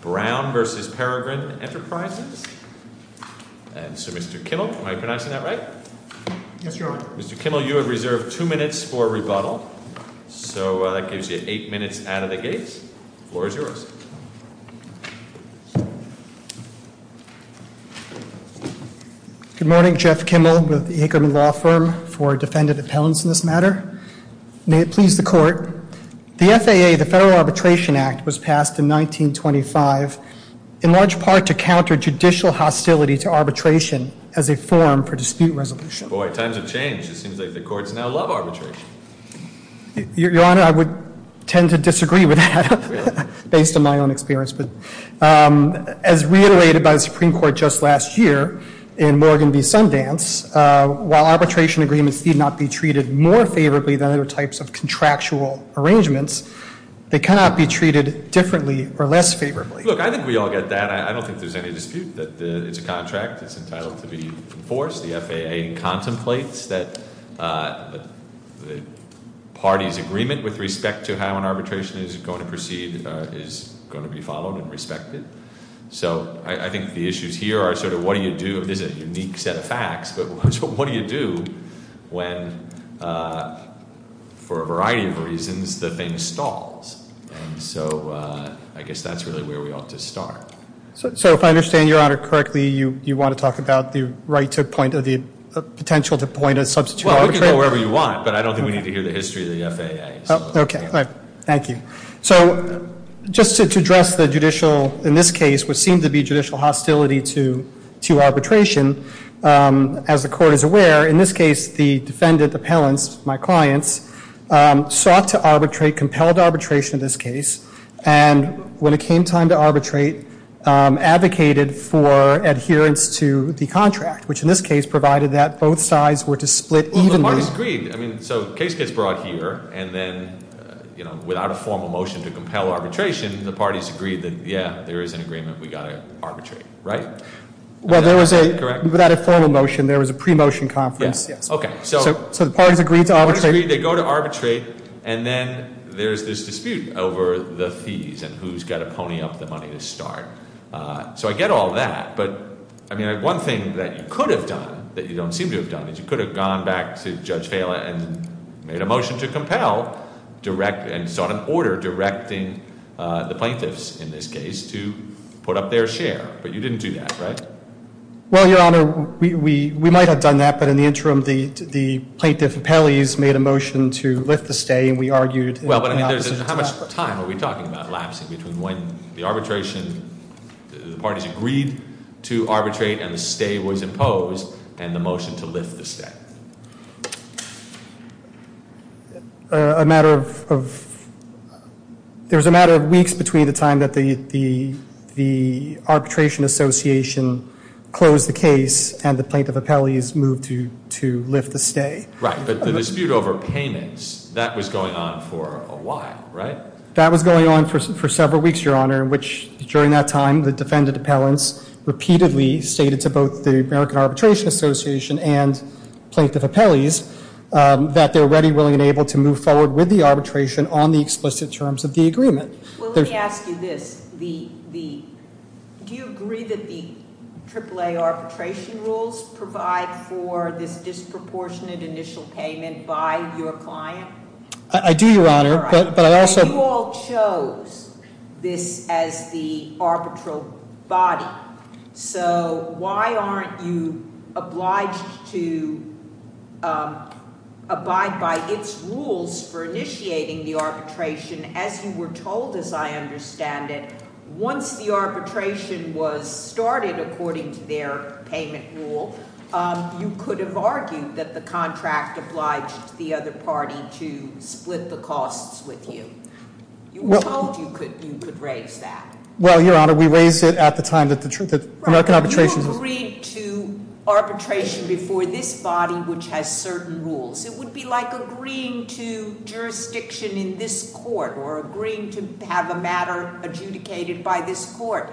Brown v. Peregrine Enterprises. And so, Mr. Kimmel, am I pronouncing that right? Yes, Your Honor. Mr. Kimmel, you have reserved two minutes for rebuttal. So, that gives you eight minutes out of the gates. The floor is yours. Good morning. Jeff Kimmel with the Ackerman Law Firm for defendant appellants in this matter. May it please the court. The FAA, the Federal Arbitration Act, was passed in 1925, in large part to counter judicial hostility to arbitration as a form for dispute resolution. Boy, times have changed. It seems like the courts now love arbitration. Your Honor, I would tend to disagree with that, based on my own experience. As reiterated by the Supreme Court just last year in Morgan v. Sundance, while arbitration agreements need not be treated more favorably than other types of contractual arrangements, they cannot be treated differently or less favorably. Look, I think we all get that. I don't think there's any dispute that it's a contract. It's entitled to be enforced. The FAA contemplates that the party's agreement with respect to how an arbitration is going to proceed is going to be followed and respected. So I think the issues here are sort of what do you do? There's a unique set of facts, but what do you do when, for a variety of reasons, the thing stalls? And so I guess that's really where we ought to start. So if I understand Your Honor correctly, you want to talk about the right to point or the potential to point a substitute arbitrator? Well, we can go wherever you want, but I don't think we need to hear the history of the FAA. Thank you. So just to address the judicial, in this case, what seemed to be judicial hostility to arbitration, as the Court is aware, in this case the defendant, the Pellants, my clients, sought to arbitrate, compelled arbitration in this case, and when it came time to arbitrate, advocated for adherence to the contract, which in this case provided that both sides were to split evenly. The parties agreed. I mean, so the case gets brought here, and then without a formal motion to compel arbitration, the parties agreed that, yeah, there is an agreement we've got to arbitrate, right? Well, there was a – Correct? Without a formal motion, there was a pre-motion conference. Okay. So the parties agreed to arbitrate. The parties agreed. They go to arbitrate, and then there's this dispute over the fees and who's got to pony up the money to start. So I get all that, but I mean, one thing that you could have done that you don't seem to have done is you could have gone back to Judge Phelan and made a motion to compel, and sought an order directing the plaintiffs in this case to put up their share. But you didn't do that, right? Well, Your Honor, we might have done that, but in the interim, the plaintiff Pellies made a motion to lift the stay, and we argued in opposition to that. Well, but I mean, how much time are we talking about lapsing between when the arbitration – to arbitrate and the stay was imposed and the motion to lift the stay? A matter of – there was a matter of weeks between the time that the arbitration association closed the case and the plaintiff Pellies moved to lift the stay. Right, but the dispute over payments, that was going on for a while, right? That was going on for several weeks, Your Honor, in which, during that time, the defendant appellants repeatedly stated to both the American Arbitration Association and plaintiff Pellies that they're ready, willing, and able to move forward with the arbitration on the explicit terms of the agreement. Well, let me ask you this. Do you agree that the AAA arbitration rules provide for this disproportionate initial payment by your client? I do, Your Honor, but I also – You all chose this as the arbitral body, so why aren't you obliged to abide by its rules for initiating the arbitration? As you were told, as I understand it, once the arbitration was started, according to their payment rule, you could have argued that the contract obliged the other party to split the costs with you. You were told you could raise that. Well, Your Honor, we raised it at the time that the American Arbitration Association – Right, you agreed to arbitration before this body, which has certain rules. It would be like agreeing to jurisdiction in this court or agreeing to have a matter adjudicated by this court,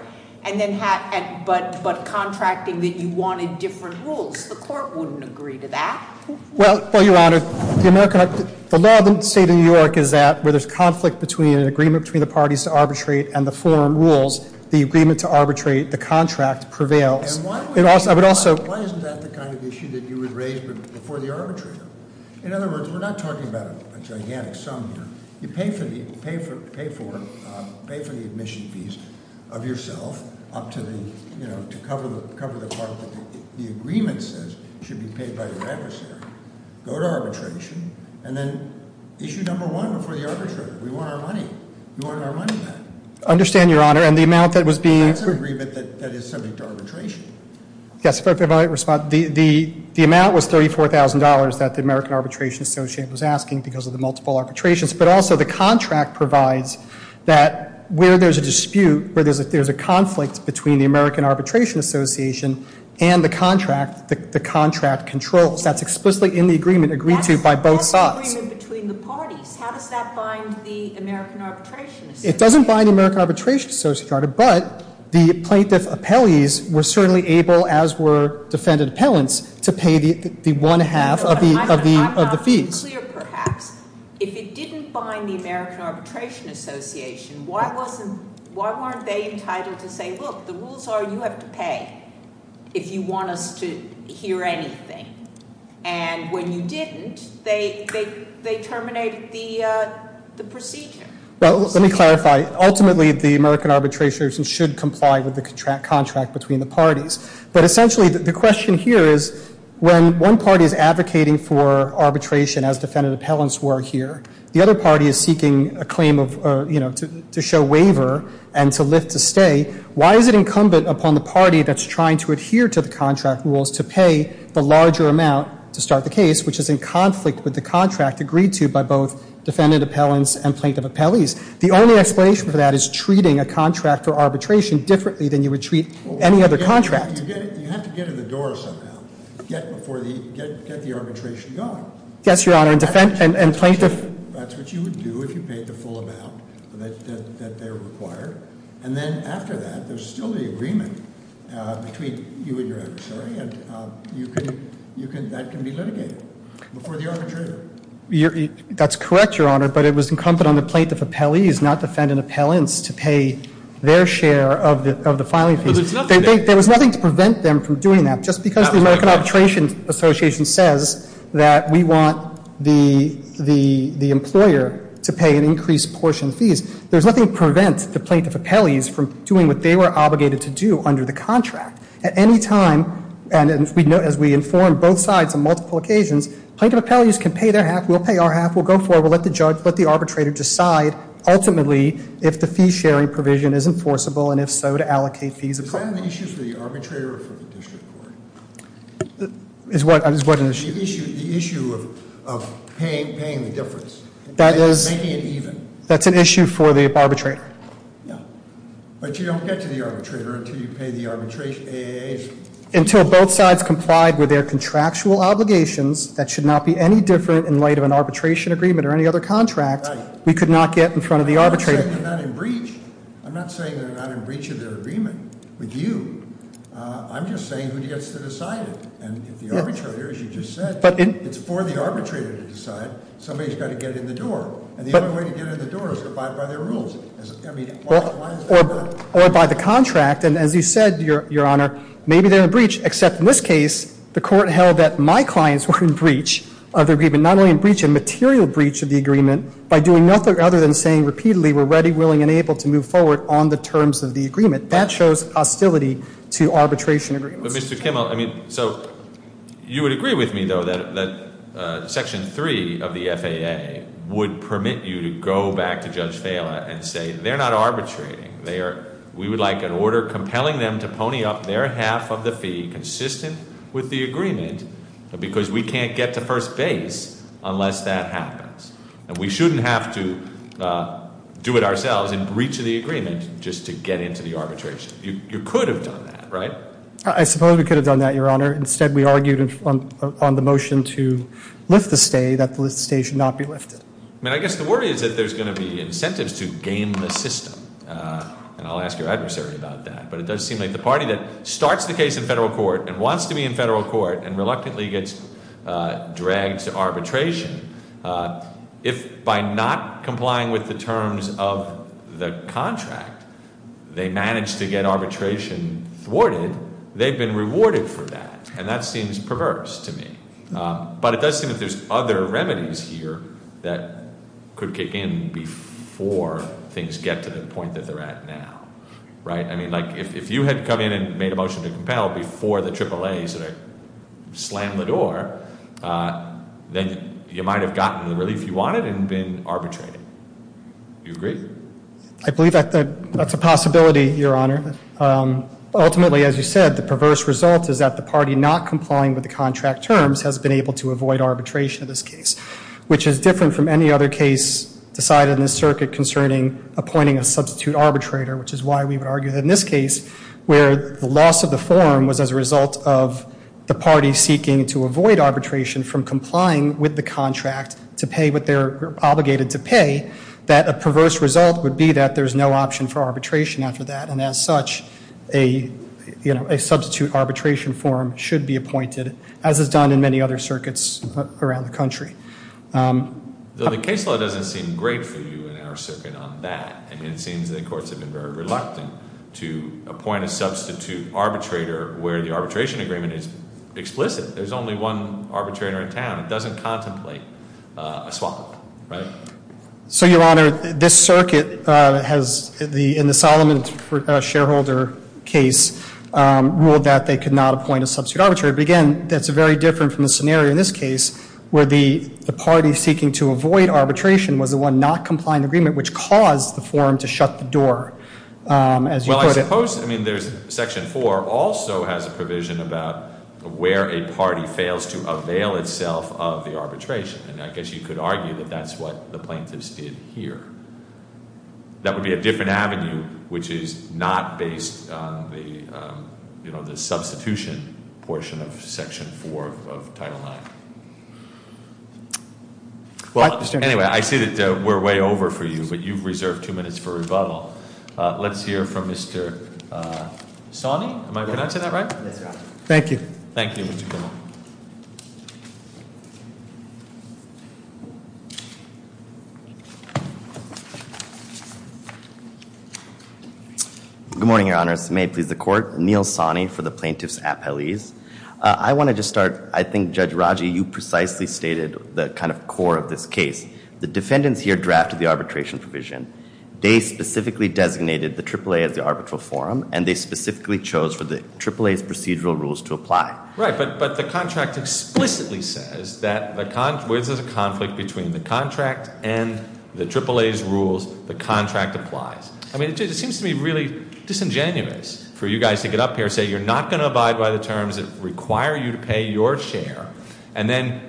but contracting that you wanted different rules. The court wouldn't agree to that. Well, Your Honor, the law of the state of New York is that where there's conflict between an agreement between the parties to arbitrate and the forum rules, the agreement to arbitrate, the contract, prevails. Why isn't that the kind of issue that you would raise before the arbitration? In other words, we're not talking about a gigantic sum here. You pay for the admission fees of yourself up to the – to cover the part that the agreement says should be paid by the adversary. Go to arbitration, and then issue number one before the arbitrator. We want our money. You want our money back. I understand, Your Honor, and the amount that was being – That's an agreement that is subject to arbitration. Yes, but if I might respond, the amount was $34,000 that the American Arbitration Association was asking because of the multiple arbitrations, but also the contract provides that where there's a dispute, where there's a conflict between the American Arbitration Association and the contract, the contract controls. That's explicitly in the agreement agreed to by both sides. That's not an agreement between the parties. How does that bind the American Arbitration Association? It doesn't bind the American Arbitration Association, Your Honor, but the plaintiff appellees were certainly able, as were defendant appellants, to pay the one half of the fees. To make it clear, perhaps, if it didn't bind the American Arbitration Association, why wasn't – why weren't they entitled to say, look, the rules are you have to pay if you want us to hear anything? And when you didn't, they terminated the procedure. Well, let me clarify. Ultimately, the American Arbitration Association should comply with the contract between the parties, but essentially the question here is when one party is advocating for arbitration as defendant appellants were here, the other party is seeking a claim of, you know, to show waiver and to lift a stay, why is it incumbent upon the party that's trying to adhere to the contract rules to pay the larger amount to start the case, which is in conflict with the contract agreed to by both defendant appellants and plaintiff appellees? The only explanation for that is treating a contract for arbitration differently than you would treat any other contract. You have to get in the door somehow. Get before the – get the arbitration going. Yes, Your Honor. And plaintiff – That's what you would do if you paid the full amount that they require. And then after that, there's still the agreement between you and your adversary, and you can – that can be litigated before the arbitrator. That's correct, Your Honor, but it was incumbent on the plaintiff appellees, not defendant appellants, to pay their share of the filing fees. There was nothing to prevent them from doing that. Just because the American Arbitration Association says that we want the employer to pay an increased portion of fees, there's nothing to prevent the plaintiff appellees from doing what they were obligated to do under the contract. At any time, and as we inform both sides on multiple occasions, plaintiff appellees can pay their half. We'll pay our half. We'll go forward. We'll let the judge, let the arbitrator decide ultimately if the fee-sharing provision is enforceable, and if so, to allocate fees accordingly. Is that an issue for the arbitrator or for the district court? Is what an issue? The issue of paying the difference. That is – Making it even. That's an issue for the arbitrator. But you don't get to the arbitrator until you pay the arbitration. Until both sides complied with their contractual obligations, that should not be any different in light of an arbitration agreement or any other contract, we could not get in front of the arbitrator. I'm not saying they're not in breach. I'm not saying they're not in breach of their agreement with you. I'm just saying who gets to decide it. And if the arbitrator, as you just said, it's for the arbitrator to decide. Somebody's got to get in the door. And the only way to get in the door is by their rules. Or by the contract. And as you said, Your Honor, maybe they're in breach, except in this case the court held that my clients were in breach of the agreement, not only in breach, a material breach of the agreement, by doing nothing other than saying repeatedly, we're ready, willing, and able to move forward on the terms of the agreement. That shows hostility to arbitration agreements. But, Mr. Kimmel, I mean, so you would agree with me, though, that Section 3 of the FAA would permit you to go back to Judge Fala and say they're not arbitrating. We would like an order compelling them to pony up their half of the fee consistent with the agreement because we can't get to first base unless that happens. And we shouldn't have to do it ourselves in breach of the agreement just to get into the arbitration. You could have done that, right? I suppose we could have done that, Your Honor. Instead, we argued on the motion to lift the stay that the stay should not be lifted. I mean, I guess the worry is that there's going to be incentives to game the system. And I'll ask your adversary about that. But it does seem like the party that starts the case in federal court and wants to be in federal court and reluctantly gets dragged to arbitration, if by not complying with the terms of the contract they managed to get arbitration thwarted, they've been rewarded for that. And that seems perverse to me. But it does seem that there's other remedies here that could kick in before things get to the point that they're at now. Right? I mean, like, if you had come in and made a motion to compel before the AAAs had slammed the door, then you might have gotten the relief you wanted and been arbitrated. Do you agree? I believe that's a possibility, Your Honor. Ultimately, as you said, the perverse result is that the party not complying with the contract terms has been able to avoid arbitration in this case, which is different from any other case decided in this circuit concerning appointing a substitute arbitrator, which is why we would argue that in this case, where the loss of the forum was as a result of the party seeking to avoid arbitration from complying with the contract to pay what they're obligated to pay, that a perverse result would be that there's no option for arbitration after that. And as such, a substitute arbitration form should be appointed, as is done in many other circuits around the country. The case law doesn't seem great for you in our circuit on that. I mean, it seems the courts have been very reluctant to appoint a substitute arbitrator where the arbitration agreement is explicit. There's only one arbitrator in town. It doesn't contemplate a swap, right? So, Your Honor, this circuit has, in the Solomon shareholder case, ruled that they could not appoint a substitute arbitrator. But again, that's very different from the scenario in this case where the party seeking to avoid arbitration was the one not complying with the agreement, which caused the forum to shut the door, as you put it. Well, I suppose section 4 also has a provision about where a party fails to avail itself of the arbitration. And I guess you could argue that that's what the plaintiffs did here. That would be a different avenue, which is not based on the substitution portion of section 4 of Title IX. Well, anyway, I see that we're way over for you, but you've reserved two minutes for rebuttal. Let's hear from Mr. Sani. Am I pronouncing that right? Yes, Your Honor. Thank you. Thank you. Good morning, Your Honors. May it please the Court. Neil Sani for the plaintiff's appellees. I want to just start. I think, Judge Raji, you precisely stated the kind of core of this case. The defendants here drafted the arbitration provision. They specifically designated the AAA as the arbitral forum, and they specifically chose for the AAA's procedural rules to apply. Right, but the contract explicitly says that there's a conflict between the contract and the AAA's rules. The contract applies. I mean, it seems to me really disingenuous for you guys to get up here and say you're not going to abide by the terms that require you to pay your share, and then,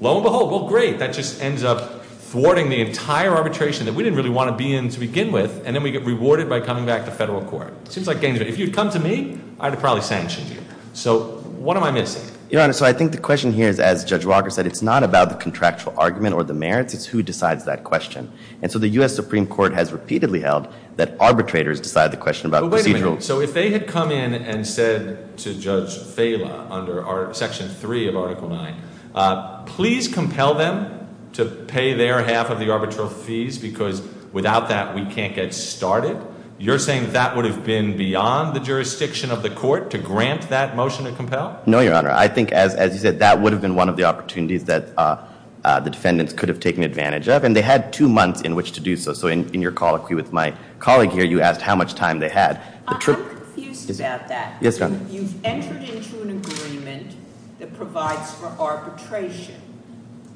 lo and behold, well, great, that just ends up thwarting the entire arbitration that we didn't really want to be in to begin with, and then we get rewarded by coming back to federal court. It seems like games. If you'd come to me, I'd have probably sanctioned you. So what am I missing? Your Honor, so I think the question here is, as Judge Walker said, it's not about the contractual argument or the merits. It's who decides that question. And so the U.S. Supreme Court has repeatedly held that arbitrators decide the question about procedural. But wait a minute. So if they had come in and said to Judge Fela under Section 3 of Article 9, please compel them to pay their half of the arbitral fees because without that we can't get started, you're saying that would have been beyond the jurisdiction of the court to grant that motion to compel? No, Your Honor. I think, as you said, that would have been one of the opportunities that the defendants could have taken advantage of, and they had two months in which to do so. So in your colloquy with my colleague here, you asked how much time they had. I'm confused about that. Yes, Your Honor. You've entered into an agreement that provides for arbitration,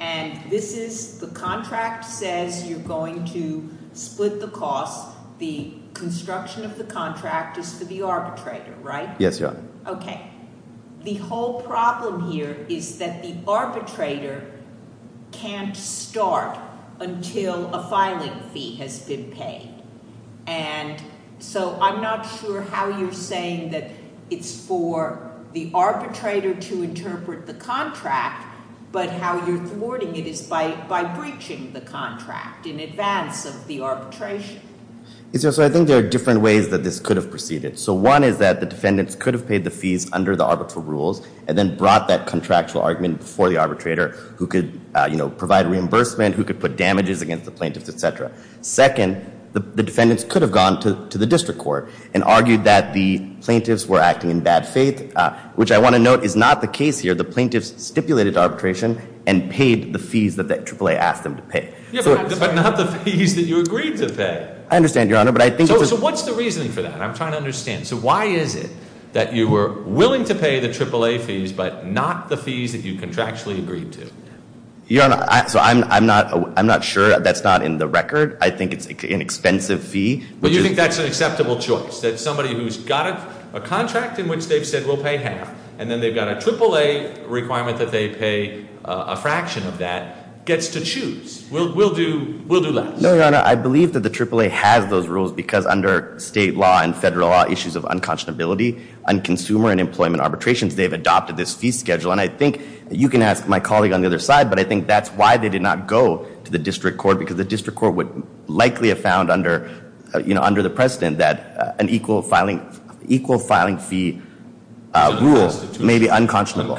and this is the contract says you're going to split the cost. The construction of the contract is for the arbitrator, right? Yes, Your Honor. Okay. The whole problem here is that the arbitrator can't start until a filing fee has been paid. And so I'm not sure how you're saying that it's for the arbitrator to interpret the contract, but how you're thwarting it is by breaching the contract in advance of the arbitration. So I think there are different ways that this could have proceeded. So one is that the defendants could have paid the fees under the arbitral rules and then brought that contractual argument before the arbitrator who could provide reimbursement, who could put damages against the plaintiffs, et cetera. Second, the defendants could have gone to the district court and argued that the plaintiffs were acting in bad faith, which I want to note is not the case here. The plaintiffs stipulated arbitration and paid the fees that AAA asked them to pay. But not the fees that you agreed to pay. I understand, Your Honor. So what's the reasoning for that? I'm trying to understand. So why is it that you were willing to pay the AAA fees but not the fees that you contractually agreed to? Your Honor, so I'm not sure. That's not in the record. I think it's an expensive fee. But you think that's an acceptable choice, that somebody who's got a contract in which they've said we'll pay half and then they've got a AAA requirement that they pay a fraction of that gets to choose. We'll do less. No, Your Honor. I believe that the AAA has those rules because under state law and federal law issues of unconscionability on consumer and employment arbitrations, they've adopted this fee schedule. And I think you can ask my colleague on the other side, but I think that's why they did not go to the district court because the district court would likely have found under the precedent that an equal filing fee rule may be unconscionable.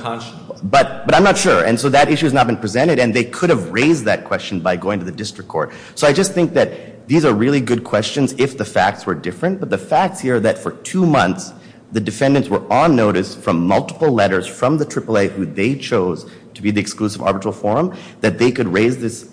But I'm not sure. And so that issue has not been presented. And they could have raised that question by going to the district court. So I just think that these are really good questions if the facts were different. But the facts here are that for two months, the defendants were on notice from multiple letters from the AAA who they chose to be the exclusive arbitral forum that they could raise this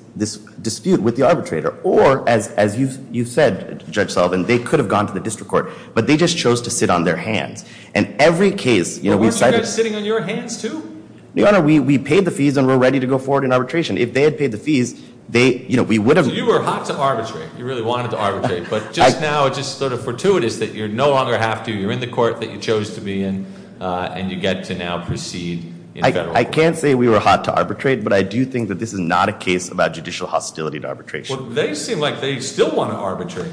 dispute with the arbitrator. Or, as you've said, Judge Sullivan, they could have gone to the district court. But they just chose to sit on their hands. And every case, you know, we've cited – But weren't you guys sitting on your hands too? Your Honor, we paid the fees and we're ready to go forward in arbitration. If they had paid the fees, we would have – So you were hot to arbitrate. You really wanted to arbitrate. But just now it's just sort of fortuitous that you no longer have to. You're in the court that you chose to be in, and you get to now proceed in federal court. I can't say we were hot to arbitrate, but I do think that this is not a case about judicial hostility to arbitration. Well, they seem like they still want to arbitrate.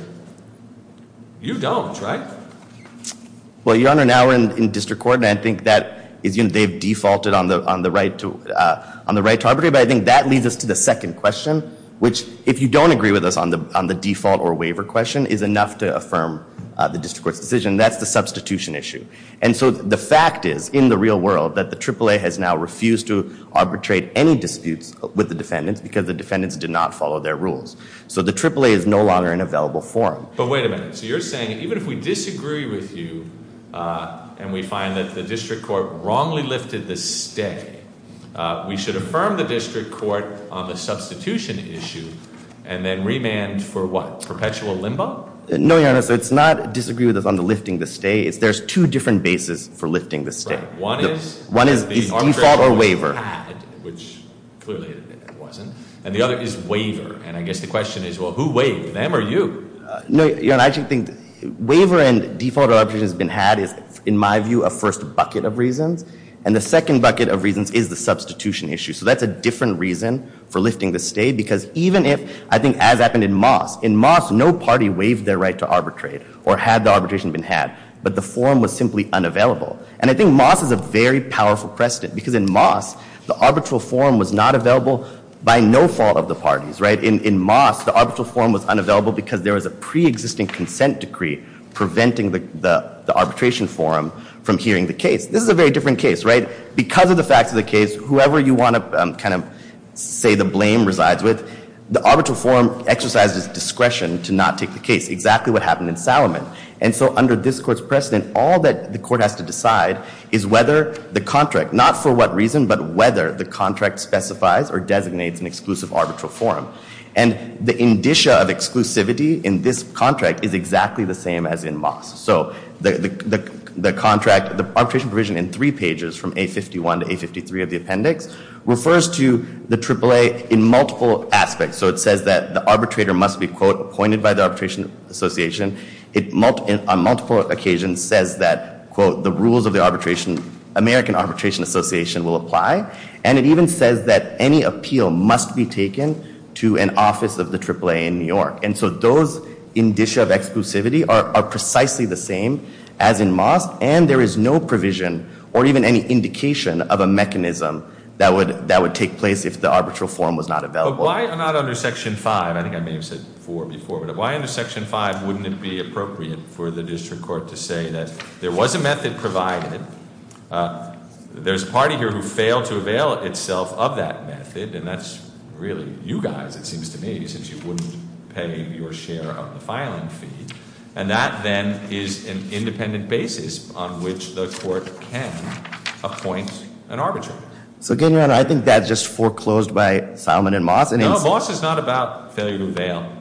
You don't, right? Well, Your Honor, now we're in district court, and I think that they've defaulted on the right to arbitrate. But I think that leads us to the second question, which, if you don't agree with us on the default or waiver question, is enough to affirm the district court's decision. That's the substitution issue. And so the fact is, in the real world, that the AAA has now refused to arbitrate any disputes with the defendants because the defendants did not follow their rules. So the AAA is no longer in available form. But wait a minute. So you're saying even if we disagree with you and we find that the district court wrongly lifted the stay, we should affirm the district court on the substitution issue and then remand for what? Perpetual limbo? No, Your Honor. So it's not disagree with us on the lifting the stay. It's there's two different bases for lifting the stay. Right. One is? One is default or waiver. Which clearly it wasn't. And the other is waiver. And I guess the question is, well, who waived? Them or you? No, Your Honor. I actually think waiver and default arbitration has been had is, in my view, a first bucket of reasons. And the second bucket of reasons is the substitution issue. So that's a different reason for lifting the stay. Because even if, I think as happened in Moss, in Moss, no party waived their right to arbitrate or had the arbitration been had. But the forum was simply unavailable. And I think Moss is a very powerful precedent. Because in Moss, the arbitral forum was not available by no fault of the parties. In Moss, the arbitral forum was unavailable because there was a preexisting consent decree preventing the arbitration forum from hearing the case. This is a very different case, right? Because of the facts of the case, whoever you want to kind of say the blame resides with, the arbitral forum exercises discretion to not take the case, exactly what happened in Salomon. And so under this court's precedent, all that the court has to decide is whether the contract, not for what reason, but whether the contract specifies or designates an exclusive arbitral forum. And the indicia of exclusivity in this contract is exactly the same as in Moss. So the contract, the arbitration provision in three pages, from A51 to A53 of the appendix, refers to the AAA in multiple aspects. So it says that the arbitrator must be, quote, appointed by the Arbitration Association. It, on multiple occasions, says that, quote, the rules of the arbitration, American Arbitration Association will apply. And it even says that any appeal must be taken to an office of the AAA in New York. And so those indicia of exclusivity are precisely the same as in Moss, and there is no provision or even any indication of a mechanism that would take place if the arbitral forum was not available. But why not under Section 5, I think I may have said 4 before, but why under Section 5 wouldn't it be appropriate for the district court to say that there was a method provided, there's a party here who failed to avail itself of that method, and that's really you guys, it seems to me, since you wouldn't pay your share of the filing fee. And that, then, is an independent basis on which the court can appoint an arbitrator. So, again, Your Honor, I think that's just foreclosed by Salomon and Moss. No, Moss is not about failure to avail.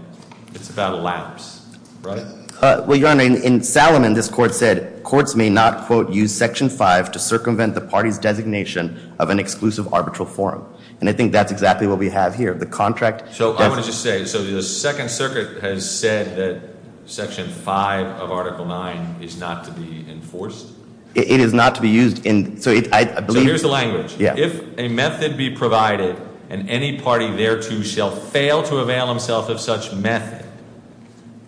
It's about lapse, right? Well, Your Honor, in Salomon, this court said courts may not, quote, use Section 5 to circumvent the party's designation of an exclusive arbitral forum. And I think that's exactly what we have here. The contract doesn't. So I want to just say, so the Second Circuit has said that Section 5 of Article 9 is not to be enforced? It is not to be used. So here's the language. Yeah. If a method be provided and any party thereto shall fail to avail himself of such method,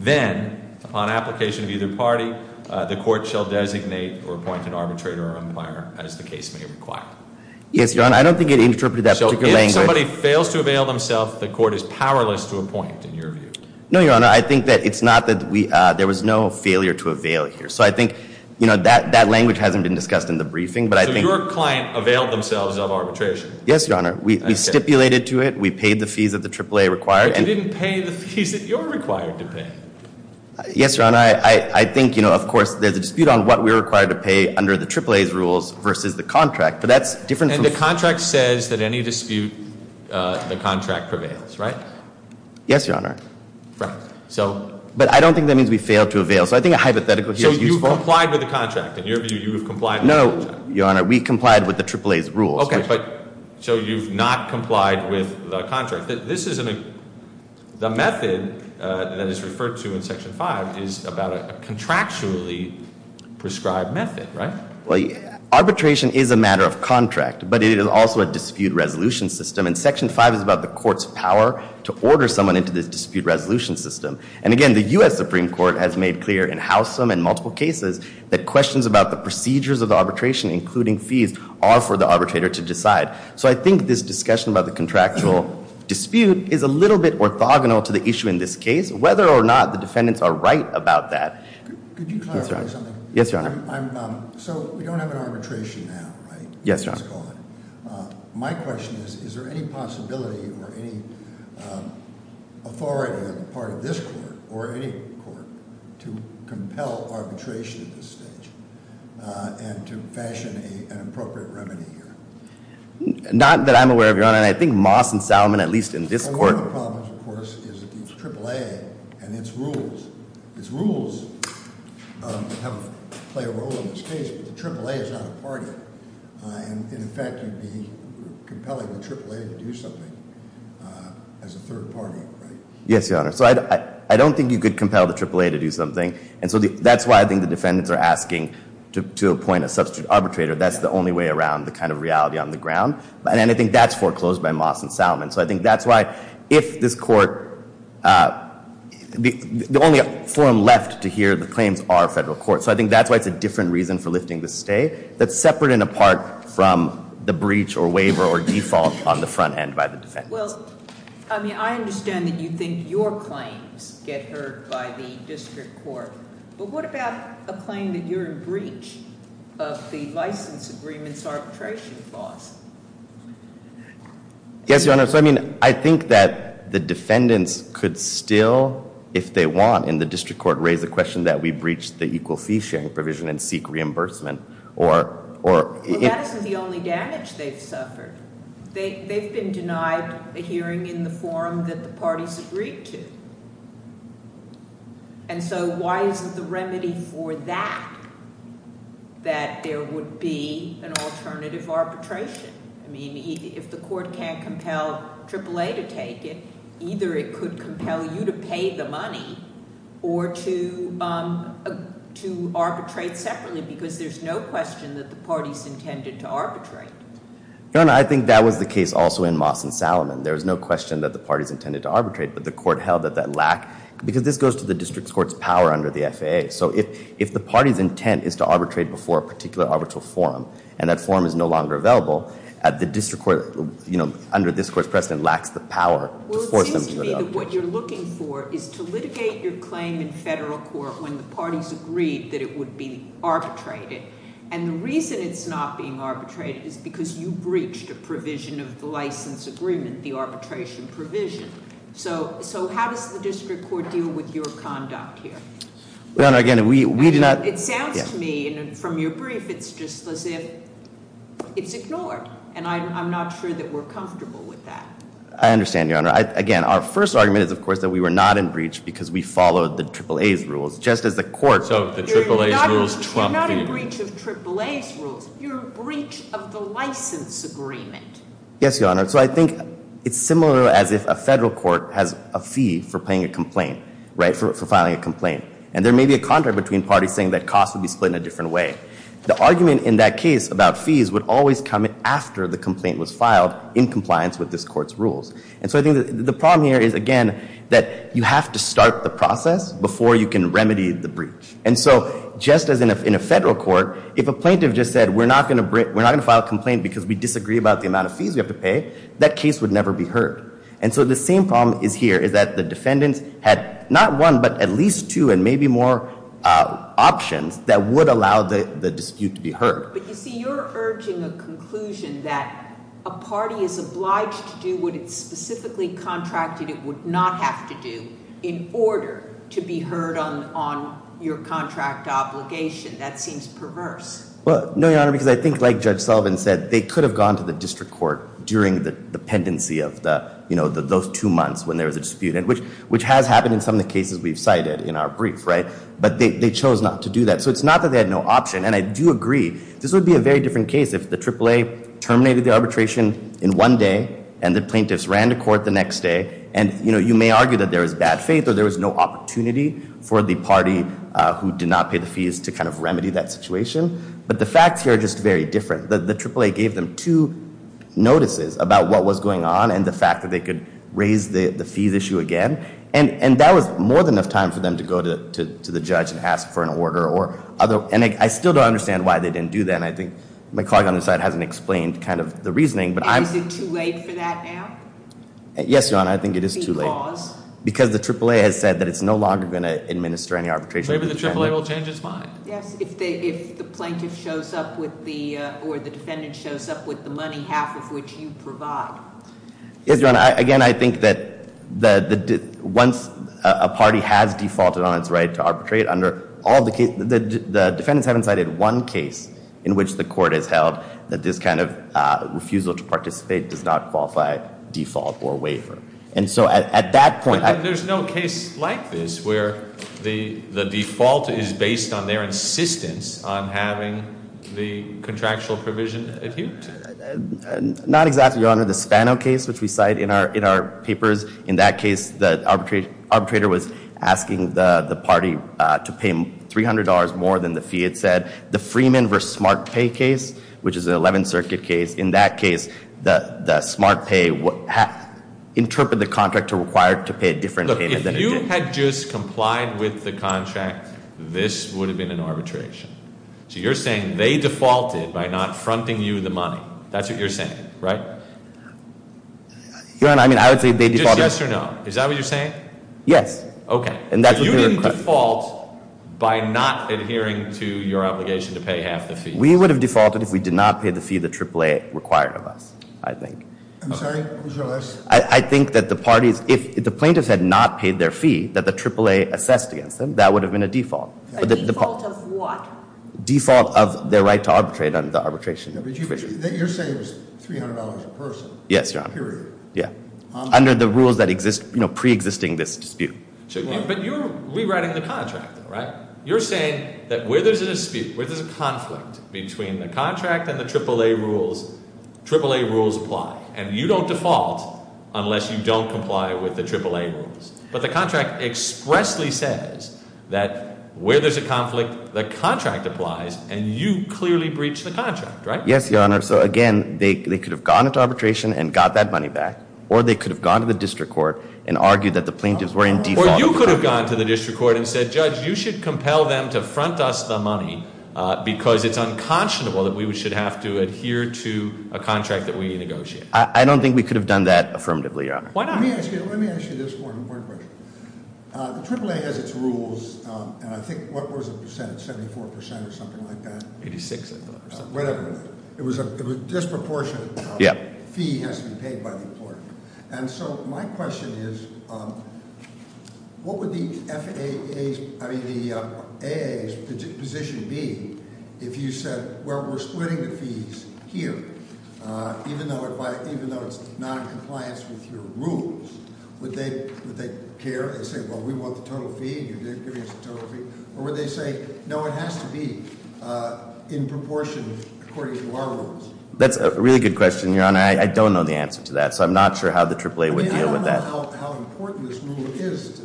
then, upon application of either party, the court shall designate or appoint an arbitrator or umpire as the case may require. Yes, Your Honor. I don't think it interpreted that particular language. So if somebody fails to avail themselves, the court is powerless to appoint, in your view? No, Your Honor. I think that it's not that we, there was no failure to avail here. So I think, you know, that language hasn't been discussed in the briefing, but I think So your client availed themselves of arbitration? Yes, Your Honor. We stipulated to it. We paid the fees that the AAA required. But you didn't pay the fees that you're required to pay. Yes, Your Honor. I think, you know, of course, there's a dispute on what we're required to pay under the AAA's rules versus the contract. But that's different from And the contract says that any dispute, the contract prevails, right? Yes, Your Honor. Right. So But I don't think that means we failed to avail. So I think a hypothetical here is useful. So you've complied with the contract. In your view, you've complied with the contract. No, Your Honor. We complied with the AAA's rules. Okay. So you've not complied with the contract. This is, I mean, the method that is referred to in Section 5 is about a contractually prescribed method, right? Arbitration is a matter of contract. But it is also a dispute resolution system. And Section 5 is about the court's power to order someone into this dispute resolution system. And again, the U.S. Supreme Court has made clear in Howsam and multiple cases that questions about the procedures of arbitration, including fees, are for the arbitrator to decide. So I think this discussion about the contractual dispute is a little bit orthogonal to the issue in this case, whether or not the defendants are right about that. Could you clarify something? Yes, Your Honor. So we don't have an arbitration now, right? Yes, Your Honor. My question is, is there any possibility or any authority on the part of this court or any court to compel arbitration at this stage and to fashion an appropriate remedy here? Not that I'm aware of, Your Honor. And I think Moss and Salomon, at least in this court. One of the problems, of course, is the AAA and its rules. Its rules play a role in this case, but the AAA is not a party. And in fact, you'd be compelling the AAA to do something as a third party, right? Yes, Your Honor. So I don't think you could compel the AAA to do something. And so that's why I think the defendants are asking to appoint a substitute arbitrator. That's the only way around the kind of reality on the ground. And I think that's foreclosed by Moss and Salmon. So I think that's why, if this court, the only forum left to hear the claims are federal courts. So I think that's why it's a different reason for lifting the stay that's separate and apart from the breach or waiver or default on the front end by the defendants. Well, I mean, I understand that you think your claims get heard by the district court. But what about a claim that you're in breach of the license agreement's arbitration clause? Yes, Your Honor. So I mean, I think that the defendants could still, if they want, in the district court, raise the question that we breached the equal fee sharing provision and seek reimbursement. Well, that isn't the only damage they've suffered. They've been denied a hearing in the forum that the parties agreed to. And so why isn't the remedy for that that there would be an alternative arbitration? I mean, if the court can't compel AAA to take it, either it could compel you to pay the money or to arbitrate separately, because there's no question that the parties intended to arbitrate. Your Honor, I think that was the case also in Moss and Salmon. There's no question that the parties intended to arbitrate, but the court held that that lack, because this goes to the district court's power under the FAA. So if the party's intent is to arbitrate before a particular arbitral forum, and that forum is no longer available, the district court, under this court's precedent, lacks the power to force them to do the arbitration. Well, it seems to me that what you're looking for is to litigate your claim in federal court when the parties agreed that it would be arbitrated. And the reason it's not being arbitrated is because you breached a provision of the license agreement, the arbitration provision. So how does the district court deal with your conduct here? Your Honor, again, we do not- It sounds to me, from your brief, it's just as if it's ignored. And I'm not sure that we're comfortable with that. I understand, Your Honor. Again, our first argument is, of course, that we were not in breach because we followed the AAA's rules, just as the court- So the AAA's rules trump the- You're not in breach of AAA's rules. You're in breach of the license agreement. Yes, Your Honor. So I think it's similar as if a federal court has a fee for paying a complaint, right, for filing a complaint. And there may be a contract between parties saying that costs would be split in a different way. The argument in that case about fees would always come after the complaint was filed in compliance with this court's rules. And so I think the problem here is, again, that you have to start the process before you can remedy the breach. And so, just as in a federal court, if a plaintiff just said, we're not going to file a complaint because we disagree about the amount of fees we have to pay, that case would never be heard. And so the same problem is here, is that the defendants had not one, but at least two and maybe more options that would allow the dispute to be heard. But you see, you're urging a conclusion that a party is obliged to do what it's specifically contracted it would not have to do in order to be heard on your contract obligation. That seems perverse. Well, no, Your Honor, because I think, like Judge Sullivan said, they could have gone to the district court during the pendency of those two months when there was a dispute, which has happened in some of the cases we've cited in our brief, right? But they chose not to do that. So it's not that they had no option, and I do agree. This would be a very different case if the AAA terminated the arbitration in one day and the plaintiffs ran to court the next day. And, you know, you may argue that there was bad faith or there was no opportunity for the party who did not pay the fees to kind of remedy that situation. But the facts here are just very different. The AAA gave them two notices about what was going on and the fact that they could raise the fees issue again. And that was more than enough time for them to go to the judge and ask for an order. And I still don't understand why they didn't do that, and I think my colleague on this side hasn't explained kind of the reasoning. And is it too late for that now? Yes, Your Honor. I think it is too late. Because? Because the AAA has said that it's no longer going to administer any arbitration. Maybe the AAA will change its mind. Yes, if the plaintiff shows up with the or the defendant shows up with the money, half of which you provide. Yes, Your Honor. Again, I think that once a party has defaulted on its right to arbitrate, the defendants haven't cited one case in which the court has held that this kind of refusal to participate does not qualify default or waiver. And so at that point- But there's no case like this where the default is based on their insistence on having the contractual provision adhered to. Not exactly, Your Honor. The Spano case, which we cite in our papers, in that case the arbitrator was asking the party to pay $300 more than the fee it said. The Freeman v. SmartPay case, which is an 11th Circuit case, in that case the SmartPay interpreted the contract to require to pay a different payment than it did. Look, if you had just complied with the contract, this would have been an arbitration. So you're saying they defaulted by not fronting you the money. That's what you're saying, right? Your Honor, I mean, I would say they defaulted- Just yes or no. Is that what you're saying? Yes. Okay. But you didn't default by not adhering to your obligation to pay half the fee. We would have defaulted if we did not pay the fee the AAA required of us, I think. I'm sorry, was your last- I think that the parties, if the plaintiffs had not paid their fee that the AAA assessed against them, that would have been a default. A default of what? Default of their right to arbitrate under the arbitration provision. But you're saying it was $300 a person. Yes, Your Honor. Period. Under the rules that exist, you know, preexisting this dispute. But you're rewriting the contract, right? You're saying that where there's a dispute, where there's a conflict between the contract and the AAA rules, AAA rules apply. And you don't default unless you don't comply with the AAA rules. But the contract expressly says that where there's a conflict, the contract applies, and you clearly breached the contract, right? Yes, Your Honor. So, again, they could have gone into arbitration and got that money back, or they could have gone to the district court and argued that the plaintiffs were in default. Or you could have gone to the district court and said, Judge, you should compel them to front us the money because it's unconscionable that we should have to adhere to a contract that we negotiated. I don't think we could have done that affirmatively, Your Honor. Why not? Let me ask you this one important question. The AAA has its rules, and I think what was it, 74% or something like that? 86, I thought. Whatever. It was a disproportionate fee has to be paid by the employer. And so my question is, what would the AAA's position be if you said, well, we're splitting the fees here? Even though it's not in compliance with your rules, would they care? They say, well, we want the total fee, and you're giving us the total fee. Or would they say, no, it has to be in proportion according to our rules? And I don't know the answer to that, so I'm not sure how the AAA would deal with that. They don't know how important this rule is to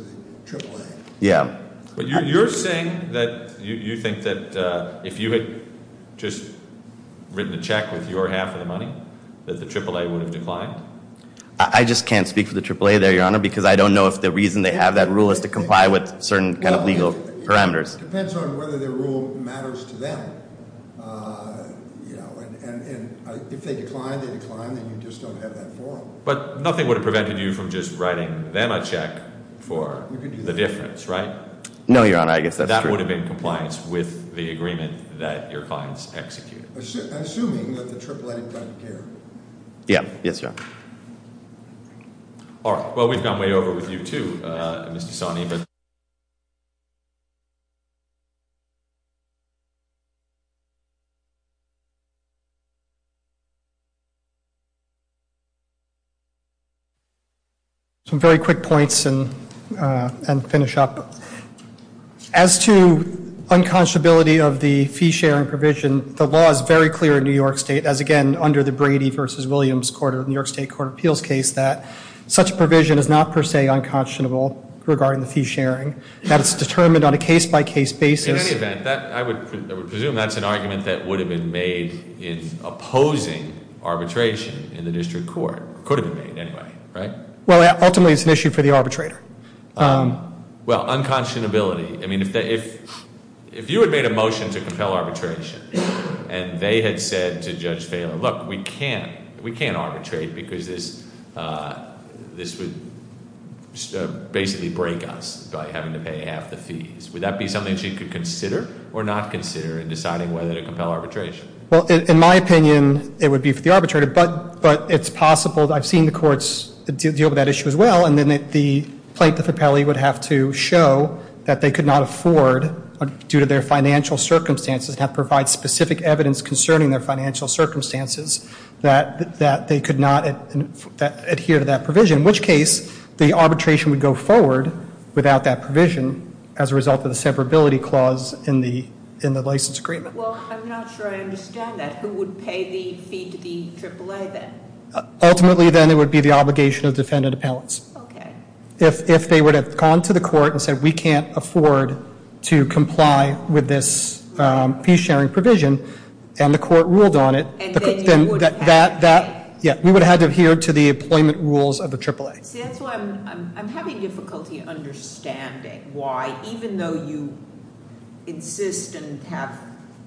the AAA. Yeah. But you're saying that you think that if you had just written a check with your half of the money that the AAA would have declined? I just can't speak for the AAA there, Your Honor, because I don't know if the reason they have that rule is to comply with certain kind of legal parameters. It depends on whether their rule matters to them. And if they decline, they decline. Then you just don't have that forum. But nothing would have prevented you from just writing them a check for the difference, right? No, Your Honor, I guess that's true. That would have been in compliance with the agreement that your clients executed. Assuming that the AAA doesn't care. Yeah. Yes, Your Honor. All right. Well, we've gone way over with you, too, Mr. Sonny. Thank you. Some very quick points and finish up. As to unconscionability of the fee-sharing provision, the law is very clear in New York State, as again under the Brady v. Williams New York State Court of Appeals case, that such a provision is not per se unconscionable regarding the fee-sharing. That it's determined on a case-by-case basis. In any event, I would presume that's an argument that would have been made in opposing arbitration in the district court. It could have been made anyway, right? Well, ultimately it's an issue for the arbitrator. Well, unconscionability. I mean, if you had made a motion to compel arbitration and they had said to Judge Phaler, look, we can't arbitrate because this would basically break us by having to pay half the fees. Would that be something she could consider or not consider in deciding whether to compel arbitration? Well, in my opinion, it would be for the arbitrator. But it's possible, I've seen the courts deal with that issue as well, and then the plaintiff appellee would have to show that they could not afford, due to their financial circumstances, and have to provide specific evidence concerning their financial circumstances, that they could not adhere to that provision. In which case, the arbitration would go forward without that provision, as a result of the severability clause in the license agreement. Well, I'm not sure I understand that. Who would pay the fee to the AAA then? Ultimately, then, it would be the obligation of defendant appellants. Okay. If they would have gone to the court and said, we can't afford to comply with this fee-sharing provision, and the court ruled on it. And then you would have to pay. Yeah, we would have had to adhere to the employment rules of the AAA. See, that's why I'm having difficulty understanding why, even though you insist and have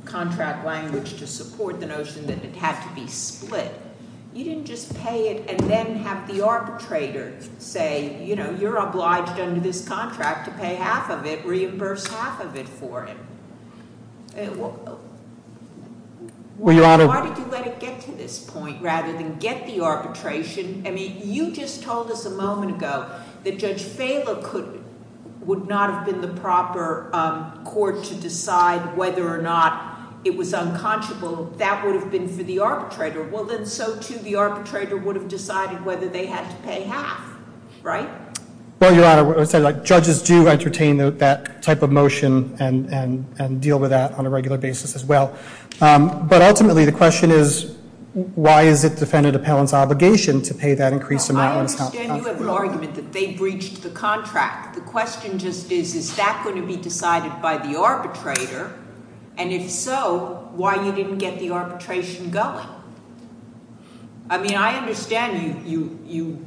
contract language to support the notion that it had to be split, you didn't just pay it and then have the arbitrator say, you know, you're obliged under this contract to pay half of it, reimburse half of it for him. Well, Your Honor. Why did you let it get to this point, rather than get the arbitration? I mean, you just told us a moment ago that Judge Fehler would not have been the proper court to decide whether or not it was unconscionable. That would have been for the arbitrator. Well, then so, too, the arbitrator would have decided whether they had to pay half. Right? Well, Your Honor, judges do entertain that type of motion and deal with that on a regular basis as well. But ultimately, the question is, why is it defendant appellant's obligation to pay that increased amount? I understand you have an argument that they breached the contract. The question just is, is that going to be decided by the arbitrator? And if so, why you didn't get the arbitration going? I mean, I understand you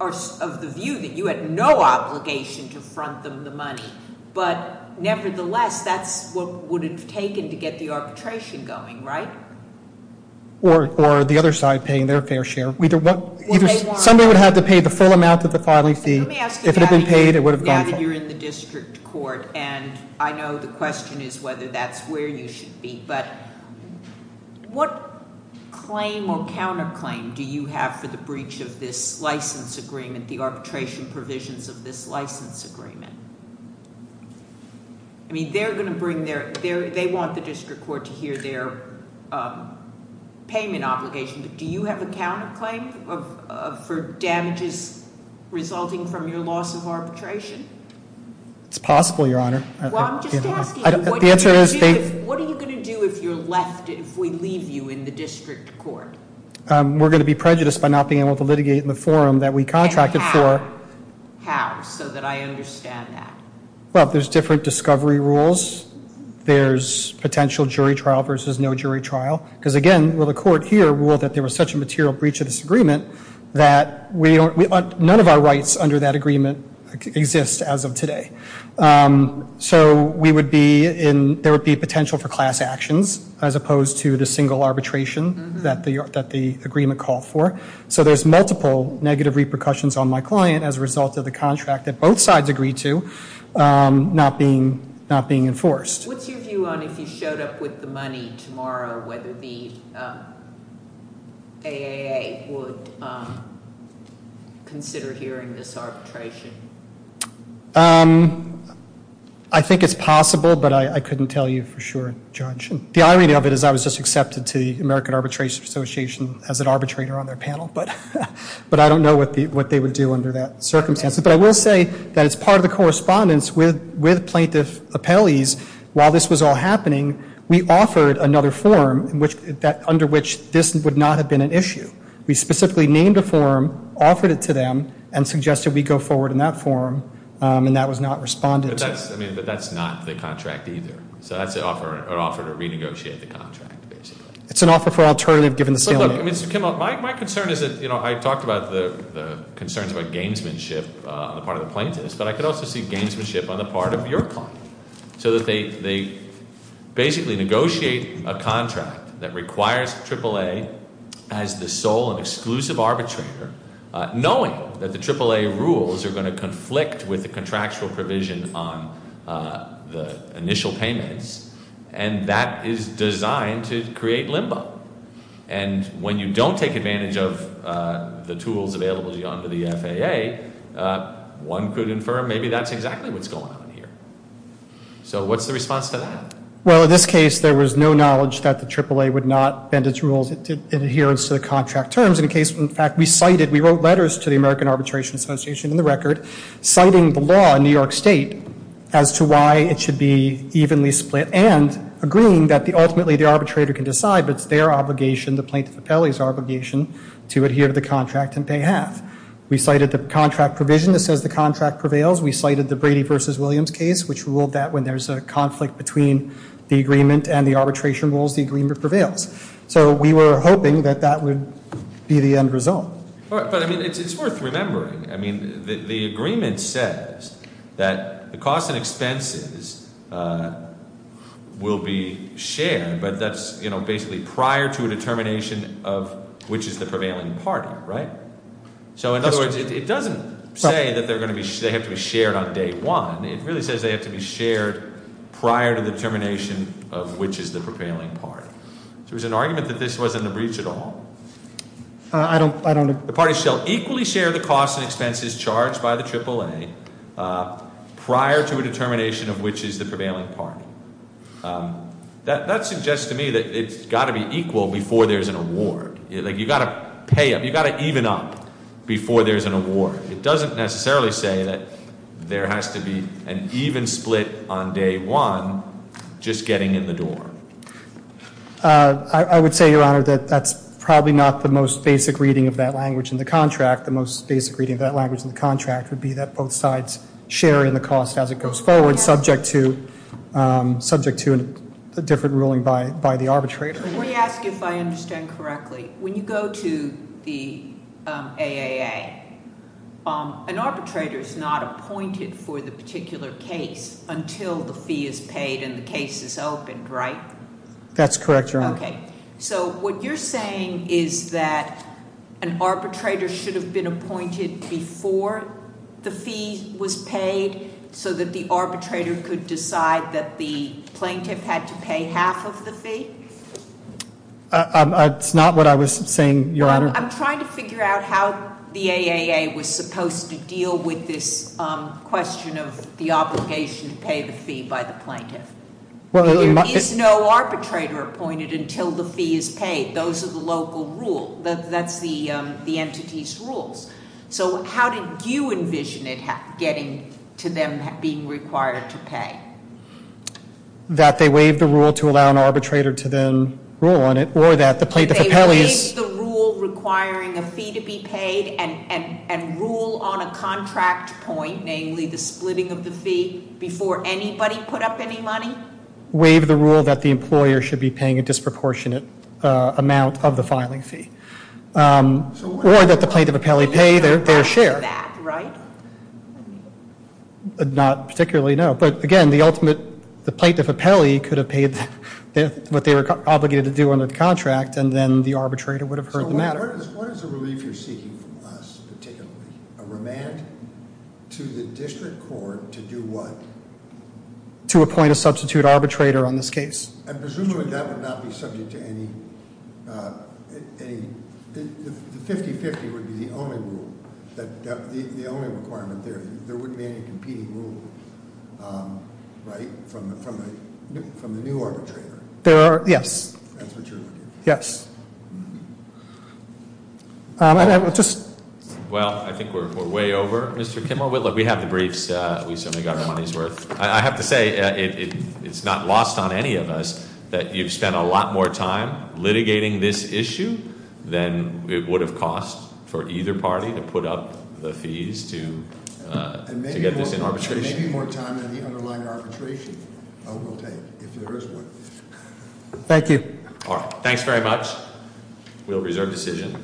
are of the view that you had no obligation to front them the money. But nevertheless, that's what would have taken to get the arbitration going, right? Or the other side paying their fair share. Somebody would have to pay the full amount of the filing fee. Let me ask you, now that you're in the district court, and I know the question is whether that's where you should be, but what claim or counterclaim do you have for the breach of this license agreement, the arbitration provisions of this license agreement? I mean, they're going to bring their—they want the district court to hear their payment obligation. But do you have a counterclaim for damages resulting from your loss of arbitration? It's possible, Your Honor. Well, I'm just asking, what are you going to do if you're left—if we leave you in the district court? We're going to be prejudiced by not being able to litigate in the forum that we contracted for. And how? How? So that I understand that. Well, there's different discovery rules. There's potential jury trial versus no jury trial. Because, again, the court here ruled that there was such a material breach of this agreement that none of our rights under that agreement exist as of today. So we would be in—there would be potential for class actions as opposed to the single arbitration that the agreement called for. So there's multiple negative repercussions on my client as a result of the contract that both sides agreed to not being enforced. What's your view on if you showed up with the money tomorrow, whether the AAA would consider hearing this arbitration? I think it's possible, but I couldn't tell you for sure, Judge. The irony of it is I was just accepted to the American Arbitration Association as an arbitrator on their panel. But I don't know what they would do under that circumstance. But I will say that it's part of the correspondence with plaintiff appellees. While this was all happening, we offered another forum under which this would not have been an issue. We specifically named a forum, offered it to them, and suggested we go forward in that forum. And that was not responded to. But that's not the contract either. So that's an offer to renegotiate the contract, basically. It's an offer for alternative given the stalemate. My concern is that I talked about the concerns about gamesmanship on the part of the plaintiffs, but I could also see gamesmanship on the part of your client. So that they basically negotiate a contract that requires AAA as the sole and exclusive arbitrator, knowing that the AAA rules are going to conflict with the contractual provision on the initial payments. And that is designed to create limbo. And when you don't take advantage of the tools available under the FAA, one could infer maybe that's exactly what's going on here. So what's the response to that? Well, in this case, there was no knowledge that the AAA would not bend its rules in adherence to the contract terms. In fact, we wrote letters to the American Arbitration Association in the record, citing the law in New York State as to why it should be evenly split and agreeing that ultimately the arbitrator can decide, but it's their obligation, the plaintiff appellee's obligation, to adhere to the contract and pay half. We cited the contract provision that says the contract prevails. We cited the Brady v. Williams case, which ruled that when there's a conflict between the agreement and the arbitration rules, the agreement prevails. So we were hoping that that would be the end result. But, I mean, it's worth remembering. I mean, the agreement says that the costs and expenses will be shared, but that's basically prior to a determination of which is the prevailing party, right? So, in other words, it doesn't say that they have to be shared on day one. It really says they have to be shared prior to the determination of which is the prevailing party. So there's an argument that this wasn't a breach at all. I don't know. The parties shall equally share the costs and expenses charged by the AAA prior to a determination of which is the prevailing party. That suggests to me that it's got to be equal before there's an award. You've got to pay them. You've got to even up before there's an award. It doesn't necessarily say that there has to be an even split on day one, just getting in the door. I would say, Your Honor, that that's probably not the most basic reading of that language in the contract. The most basic reading of that language in the contract would be that both sides share in the cost as it goes forward, subject to a different ruling by the arbitrator. Let me ask if I understand correctly. When you go to the AAA, an arbitrator is not appointed for the particular case until the fee is paid and the case is opened, right? Okay, so what you're saying is that an arbitrator should have been appointed before the fee was paid, so that the arbitrator could decide that the plaintiff had to pay half of the fee? That's not what I was saying, Your Honor. I'm trying to figure out how the AAA was supposed to deal with this question of the obligation to pay the fee by the plaintiff. There is no arbitrator appointed until the fee is paid. Those are the local rule. That's the entity's rules. So how did you envision it getting to them being required to pay? That they waive the rule to allow an arbitrator to then rule on it, or that the plaintiff appellees- And rule on a contract point, namely the splitting of the fee, before anybody put up any money? Waive the rule that the employer should be paying a disproportionate amount of the filing fee. Or that the plaintiff appellee pay their share. Not that, right? Not particularly, no. But again, the ultimate- the plaintiff appellee could have paid what they were obligated to do under the contract, and then the arbitrator would have heard the matter. What is the relief you're seeking from us, particularly? A remand to the district court to do what? To appoint a substitute arbitrator on this case. And presumably that would not be subject to any- The 50-50 would be the only rule. The only requirement there. There wouldn't be any competing rule, right? From the new arbitrator. There are, yes. That's what you're looking for. Yes. Well, I think we're way over, Mr. Kimmel. We have the briefs. We certainly got our money's worth. I have to say, it's not lost on any of us that you've spent a lot more time litigating this issue than it would have cost for either party to put up the fees to get this in arbitration. And maybe more time than the underlying arbitration will take, if there is one. Thank you. All right. Thanks very much. We'll reserve decision.